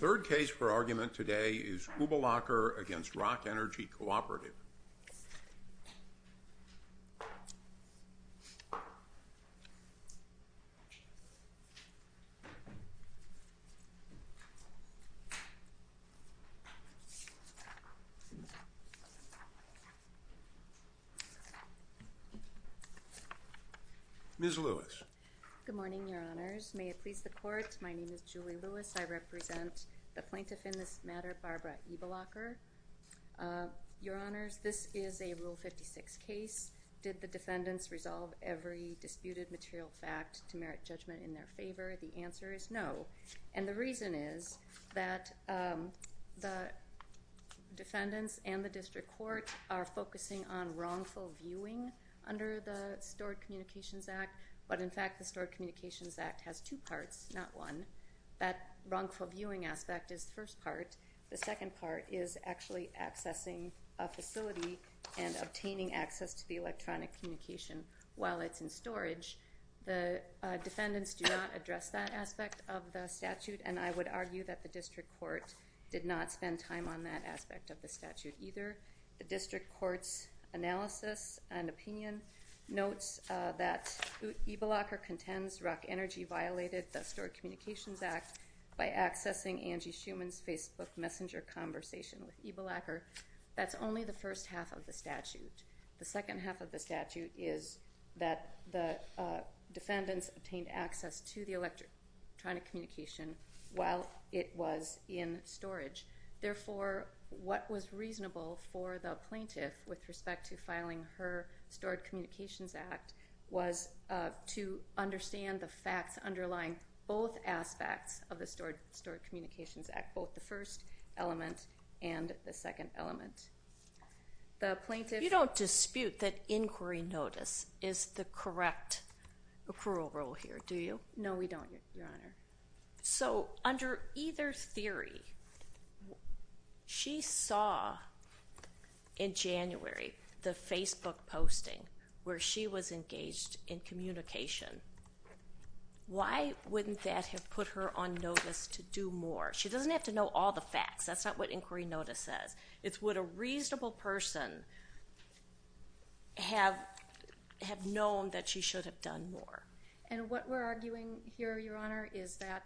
The third case for argument today is Uebelacker v. Rock Energy Cooperative. Ms. Lewis. Good morning, Your Honors. May it please the Court, my name is Julie Lewis. I represent the plaintiff in this matter, Barbara Uebelacker. Your Honors, this is a Rule 56 case. Did the defendants resolve every disputed material fact to merit judgment in their favor? The answer is no. And the reason is that the defendants and the District Court are focusing on wrongful viewing under the Stored Communications Act, but in fact the Stored Communications Act has two parts, not one. That wrongful viewing aspect is the first part. The second part is actually accessing a facility and obtaining access to the electronic communication while it's in storage. The defendants do not address that aspect of the statute, and I would argue that the District Court did not spend time on that aspect of the statute either. The District Court's analysis and opinion notes that Uebelacker contends Rock Energy violated the Stored Communications Act by accessing Angie Schumann's Facebook Messenger conversation with Uebelacker. That's only the first half of the statute. The second half of the statute is that the defendants obtained access to the electronic communication while it was in storage. Therefore, what was reasonable for the plaintiff with respect to filing her Stored Communications Act was to understand the facts underlying both aspects of the Stored Communications Act, both the first element and the second element. The plaintiff... You don't dispute that inquiry notice is the correct accrual rule here, do you? No, we don't, Your Honor. So under either theory, she saw in January the Facebook posting where she was engaged in communication. Why wouldn't that have put her on notice to do more? She doesn't have to know all the facts. That's not what inquiry notice says. It's would a reasonable person have known that she should have done more. And what we're arguing here, Your Honor, is that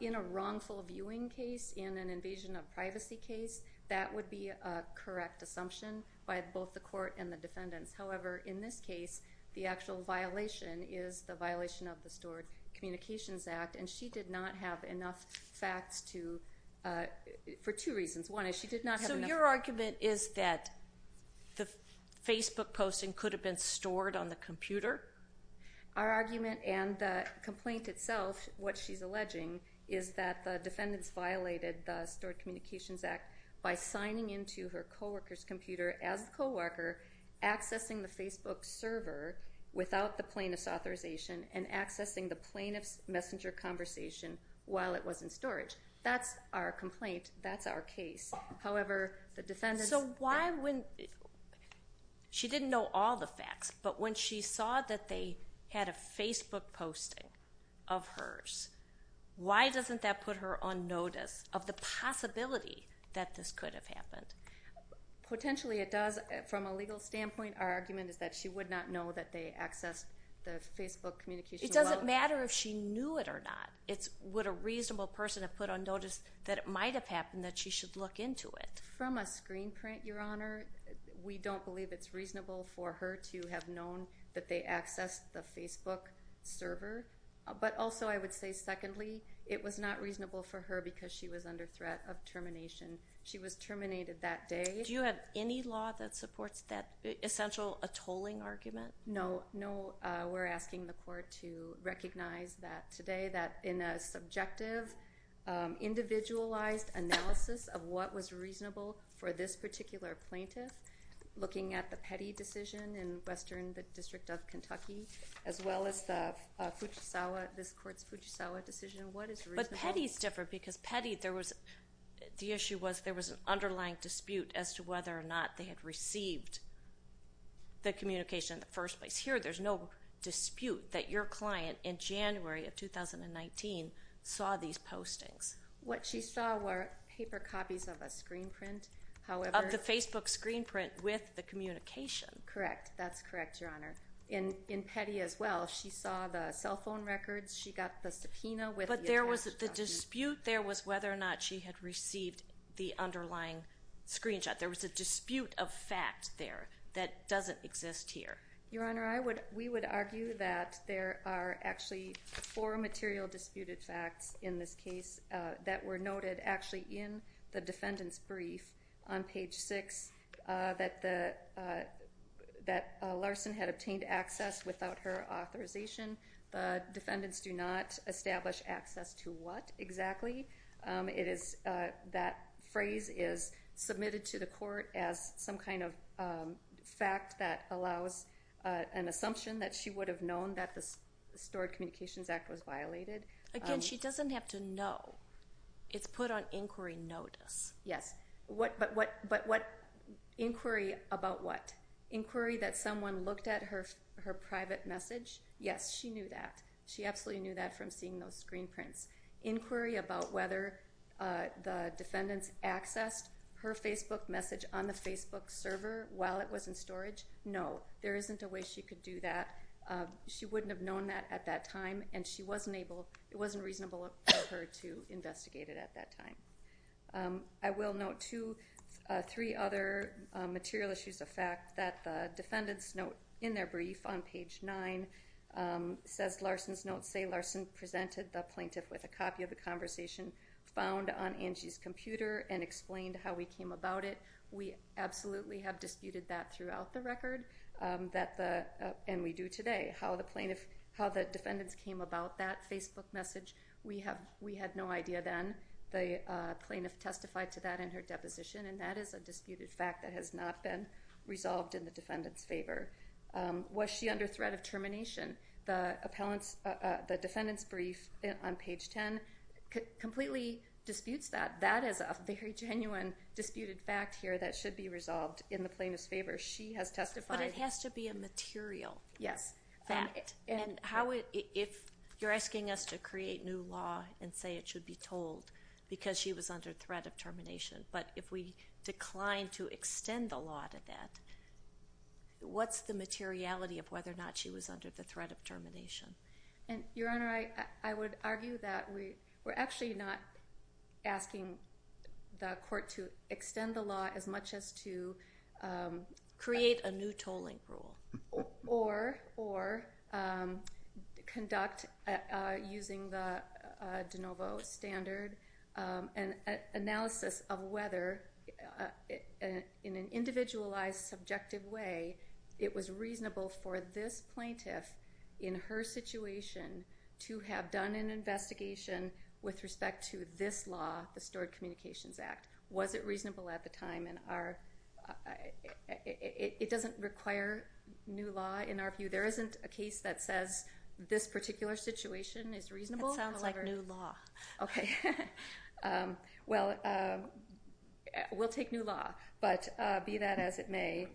in a wrongful viewing case, in an invasion of privacy case, that would be a correct assumption by both the court and the defendants. However, in this case, the actual violation is the violation of the Stored Communications Act, and she did not have enough facts to... for two reasons. One is she did not have enough... So your argument is that the Facebook posting could have been stored on the computer? Our argument and the complaint itself, what she's alleging, is that the defendants violated the Stored Communications Act by signing into her co-worker's computer as the co-worker, accessing the Facebook server without the plaintiff's authorization, and accessing the plaintiff's messenger conversation while it was in storage. That's our complaint. That's our case. However, the defendants... So why when... she didn't know all the facts, but when she saw that they had a Facebook posting of hers, why doesn't that put her on notice of the possibility that this could have happened? Potentially it does. From a legal standpoint, our argument is that she would not know that they accessed the Facebook communication while... It doesn't matter if she knew it or not. It's would a reasonable person have put on notice that it might have happened, that she should look into it. From a screen print, Your Honor, we don't believe it's reasonable for her to have known that they accessed the Facebook server, but also I would say secondly, it was not reasonable for her because she was under threat of termination. She was terminated that day. Do you have any law that supports that essential tolling argument? No. No. We're asking the court to recognize that today, that in a subjective, individualized analysis of what was reasonable for this particular plaintiff, looking at the Petty decision in Western District of Kentucky, as well as the Fuchisawa, this court's Fuchisawa decision, what is reasonable? But Petty's different because Petty, there was, the issue was there was an underlying dispute as to whether or not they had received the communication in the first place. Here there's no dispute that your client in January of 2019 saw these postings. What she saw were paper copies of a screen print, however... Of the Facebook screen print with the communication. Correct. That's correct, Your Honor. In Petty as well, she saw the cell phone records. She got the subpoena with the attached document. But there was the dispute there was whether or not she had received the underlying screenshot. There was a dispute of fact there that doesn't exist here. Your Honor, I would, we would argue that there are actually four material disputed facts in this case that were noted actually in the defendant's brief on page six, that Larson had obtained access without her authorization. The defendants do not establish access to what exactly. It is, that phrase is submitted to the court as some kind of fact that allows an assumption that she would have known that the Stored Communications Act was violated. Again, she doesn't have to know. It's put on inquiry notice. Yes. But what, but what inquiry about what? Inquiry that someone looked at her, her private message? Yes, she knew that. She absolutely knew that from seeing those screen prints. Inquiry about whether the defendants accessed her Facebook message on the Facebook server while it was in storage? No, there isn't a way she could do that. She wouldn't have known that at that time and she wasn't able, it wasn't reasonable for her to investigate it at that time. I will note two, three other material issues of fact that the defendants note in their with a copy of the conversation found on Angie's computer and explained how we came about it. We absolutely have disputed that throughout the record that the, and we do today. How the plaintiff, how the defendants came about that Facebook message, we have, we had no idea then. The plaintiff testified to that in her deposition and that is a disputed fact that has not been resolved in the defendant's favor. Was she under threat of termination? The defendant's brief on page 10 completely disputes that. That is a very genuine disputed fact here that should be resolved in the plaintiff's favor. She has testified. But it has to be a material fact. And how, if you're asking us to create new law and say it should be told because she was under threat of termination, but if we decline to extend the law to that, what's the materiality of whether or not she was under the threat of termination? And Your Honor, I would argue that we're actually not asking the court to extend the law as much as to create a new tolling rule or conduct using the de novo standard an analysis of whether, in an individualized, subjective way, it was reasonable for this plaintiff in her situation to have done an investigation with respect to this law, the Stored Communications Act. Was it reasonable at the time in our, it doesn't require new law in our view. There isn't a case that says this particular situation is reasonable. It sounds like new law. Okay. Well, we'll take new law, but be that as it may,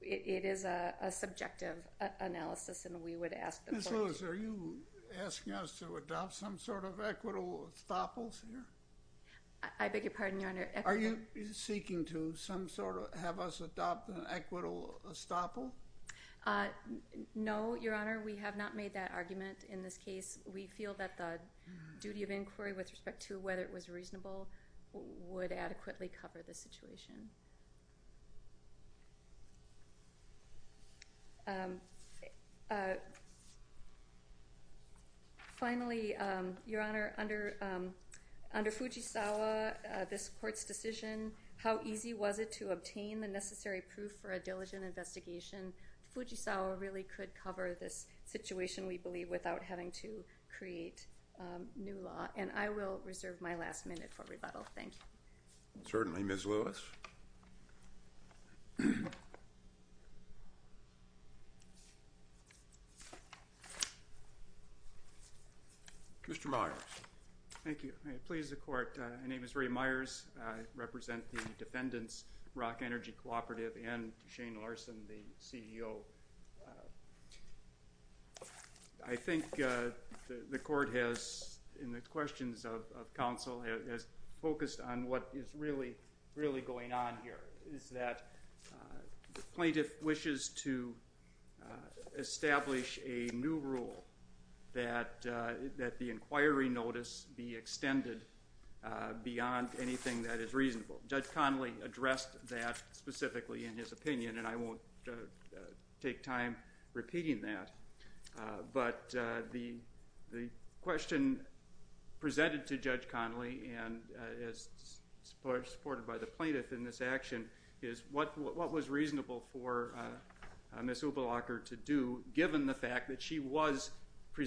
it is a subjective analysis and we would ask the court to. Ms. Lewis, are you asking us to adopt some sort of equitable estoppels here? I beg your pardon, Your Honor. Are you seeking to some sort of have us adopt an equitable estoppel? No, Your Honor. We have not made that argument in this case. We feel that the duty of inquiry with respect to whether it was reasonable would adequately cover the situation. Finally, Your Honor, under, under Fujisawa, this court's decision, how easy was it to obtain the necessary proof for a diligent investigation, Fujisawa really could cover this situation we believe without having to create new law and I will reserve my last minute for rebuttal. Thank you. Certainly, Ms. Lewis. Mr. Myers. Thank you. Please, the court. My name is Ray Myers. I represent the Defendants Rock Energy Cooperative and Shane Larson, the CEO of the company. I think the court has, in the questions of counsel, has focused on what is really, really going on here is that the plaintiff wishes to establish a new rule that, that the inquiry notice be extended beyond anything that is reasonable. Judge Connolly addressed that specifically in his opinion and I won't take time repeating that. But the, the question presented to Judge Connolly and is supported by the plaintiff in this action is what, what was reasonable for Ms. Ubalacher to do given the fact that she was the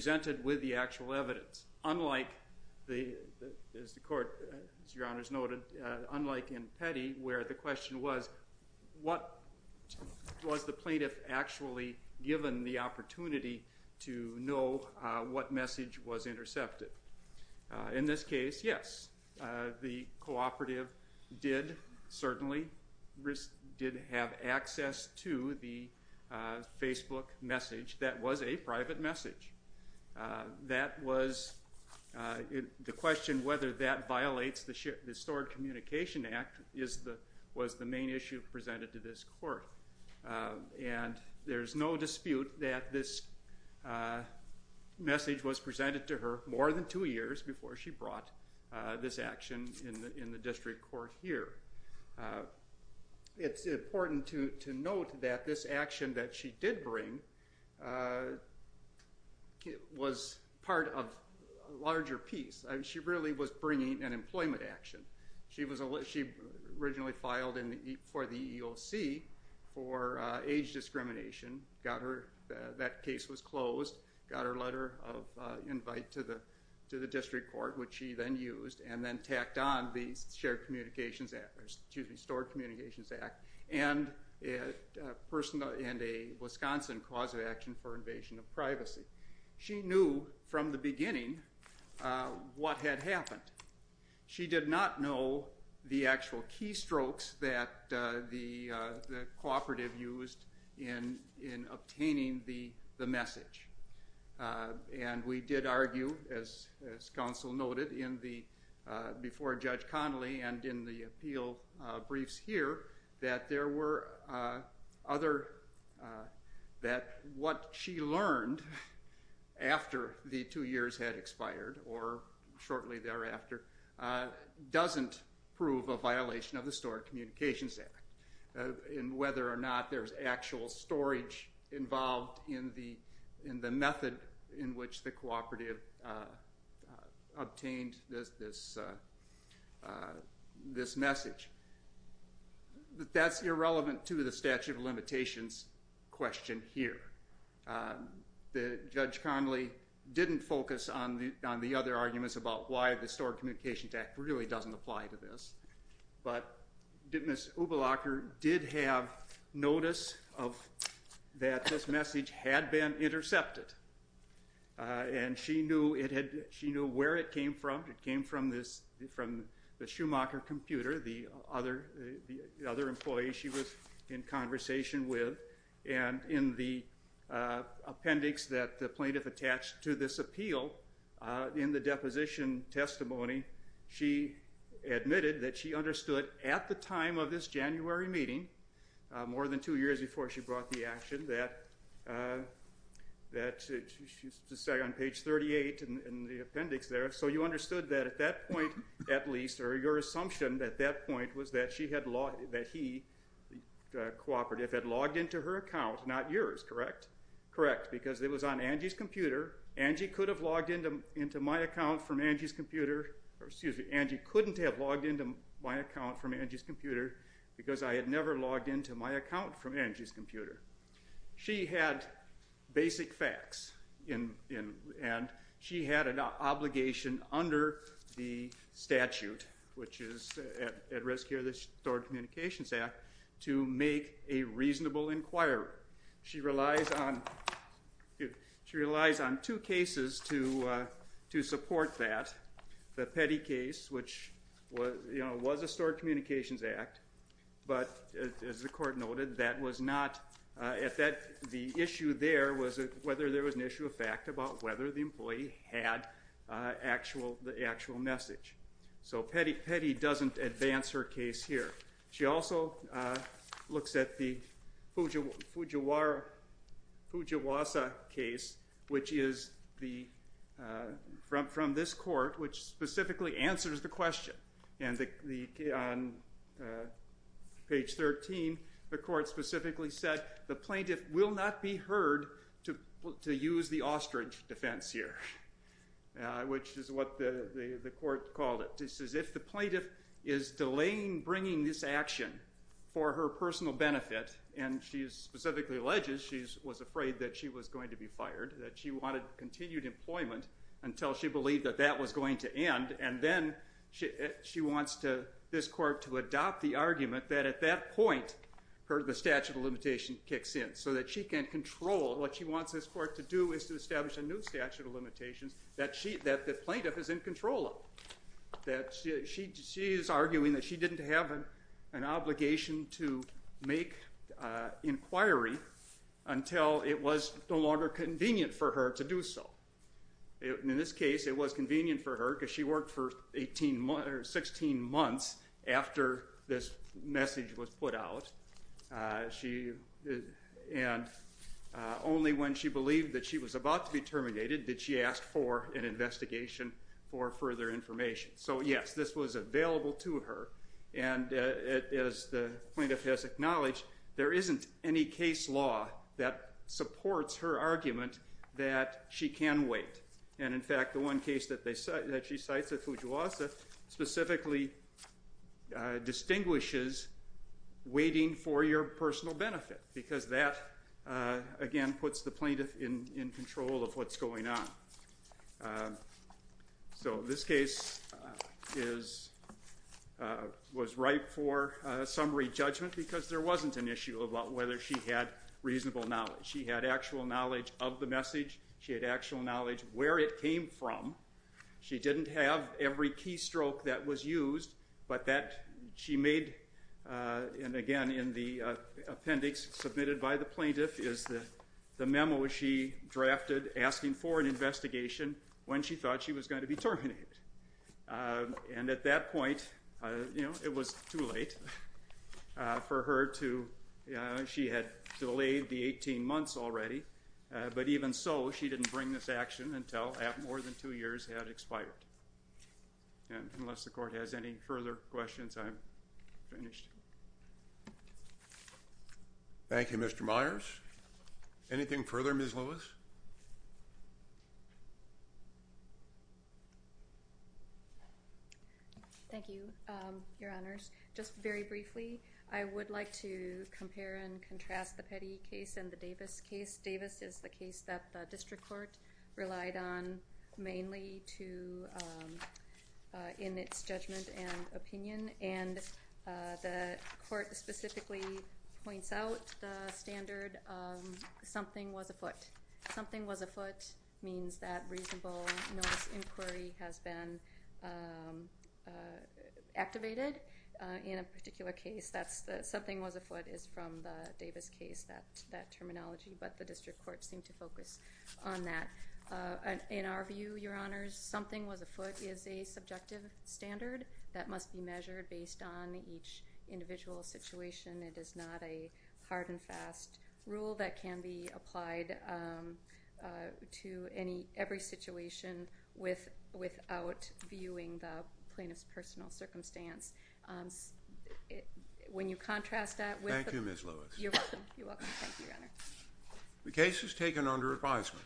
plaintiff actually given the opportunity to know what message was intercepted. In this case, yes, the cooperative did certainly, did have access to the Facebook message that was a private message. That was the question whether that violates the, the Stored Communication Act is the, was the main issue presented to this court. And there's no dispute that this message was presented to her more than two years before she brought this action in the, in the district court here. It's important to, to note that this action that she did bring was part of a larger piece. She really was bringing an employment action. She was, she originally filed for the EEOC for age discrimination, got her, that case was closed, got her letter of invite to the, to the district court, which she then used and then tacked on the Shared Communications Act, or excuse me, Stored Communications Act and a person, and a Wisconsin cause of action for invasion of privacy. She knew from the beginning what had happened. She did not know the actual keystrokes that the, the cooperative used in, in obtaining the, the message. And we did argue, as, as counsel noted in the, before Judge Connolly and in the appeal briefs here, that there were other, that what she learned after the two years had expired or shortly thereafter doesn't prove a violation of the Stored Communications Act. And whether or not there's actual storage involved in the, in the method in which the cooperative obtained this, this, this message. But that's irrelevant to the statute of limitations question here. Judge Connolly didn't focus on the, on the other arguments about why the Stored Communications Act really doesn't apply to this. But Ms. Ubelacher did have notice of, that this message had been intercepted. And she knew it had, she knew where it came from. It came from this, from the Schumacher computer, the other, the other employee she was in conversation with. And in the appendix that the plaintiff attached to this appeal, in the deposition testimony, she admitted that she understood at the time of this January meeting, more than two years before she brought the action, that, that she, she's to say on page 38 in the appendix there. So you understood that at that point, at least, or your assumption at that point was that she had logged, that he, the cooperative had logged into her account, not yours. Correct? Correct. Because it was on Angie's computer. Angie could have logged into my account from Angie's computer, or excuse me, Angie couldn't have logged into my account from Angie's computer because I had never logged into my account from Angie's computer. She had basic facts in, in, and she had an obligation under the statute, which is at risk here of the Stored Communications Act, to make a reasonable inquiry. However, she relies on, she relies on two cases to, to support that. The Petty case, which was, you know, was a Stored Communications Act, but as the court noted, that was not, at that, the issue there was whether there was an issue of fact about whether the employee had actual, the actual message. So Petty, Petty doesn't advance her case here. She also looks at the Fujiwara, Fujiwasa case, which is the, from, from this court, which specifically answers the question. And the, the, on page 13, the court specifically said, the plaintiff will not be heard to, to use the ostrich defense here, which is what the, the, the court called it. It says, if the plaintiff is delaying bringing this action for her personal benefit, and she specifically alleges she's, was afraid that she was going to be fired, that she wanted continued employment until she believed that that was going to end, and then she, she wants to, this court to adopt the argument that at that point, her, the statute of limitation kicks in, so that she can control what she wants this court to do is to establish a new that she, she is arguing that she didn't have an obligation to make inquiry until it was no longer convenient for her to do so. In this case, it was convenient for her because she worked for 18 months, or 16 months after this message was put out. She, and only when she believed that she was about to be terminated did she ask for an inquiry for further information. So, yes, this was available to her, and as the plaintiff has acknowledged, there isn't any case law that supports her argument that she can wait. And, in fact, the one case that they, that she cites at Fujiwasa specifically distinguishes waiting for your personal benefit because that, again, puts the plaintiff in, in control of what's going on. So, this case is, was ripe for summary judgment because there wasn't an issue about whether she had reasonable knowledge. She had actual knowledge of the message. She had actual knowledge where it came from. She didn't have every keystroke that was used, but that she made, and again, in the appendix submitted by the plaintiff is the memo she drafted asking for an investigation when she thought she was going to be terminated. And at that point, you know, it was too late for her to, she had delayed the 18 months already, but even so, she didn't bring this action until more than two years had expired. And unless the court has any further questions, I'm finished. Thank you, Mr. Myers. Anything further, Ms. Lewis? Thank you, Your Honors. Just very briefly, I would like to compare and contrast the Petty case and the Davis case. Davis is the case that the district court relied on mainly to, in its judgment and opinion, and the court specifically points out the standard of something was afoot. Something was afoot means that reasonable notice inquiry has been activated in a particular case. Something was afoot is from the Davis case, that terminology, but the district court seemed to focus on that. In our view, Your Honors, something was afoot is a subjective standard that must be measured based on each individual situation. It is not a hard and fast rule that can be applied to every situation without viewing the plaintiff's personal circumstance. When you contrast that with... Thank you, Ms. Lewis. You're welcome. Thank you, Your Honor. The case is taken under advisement.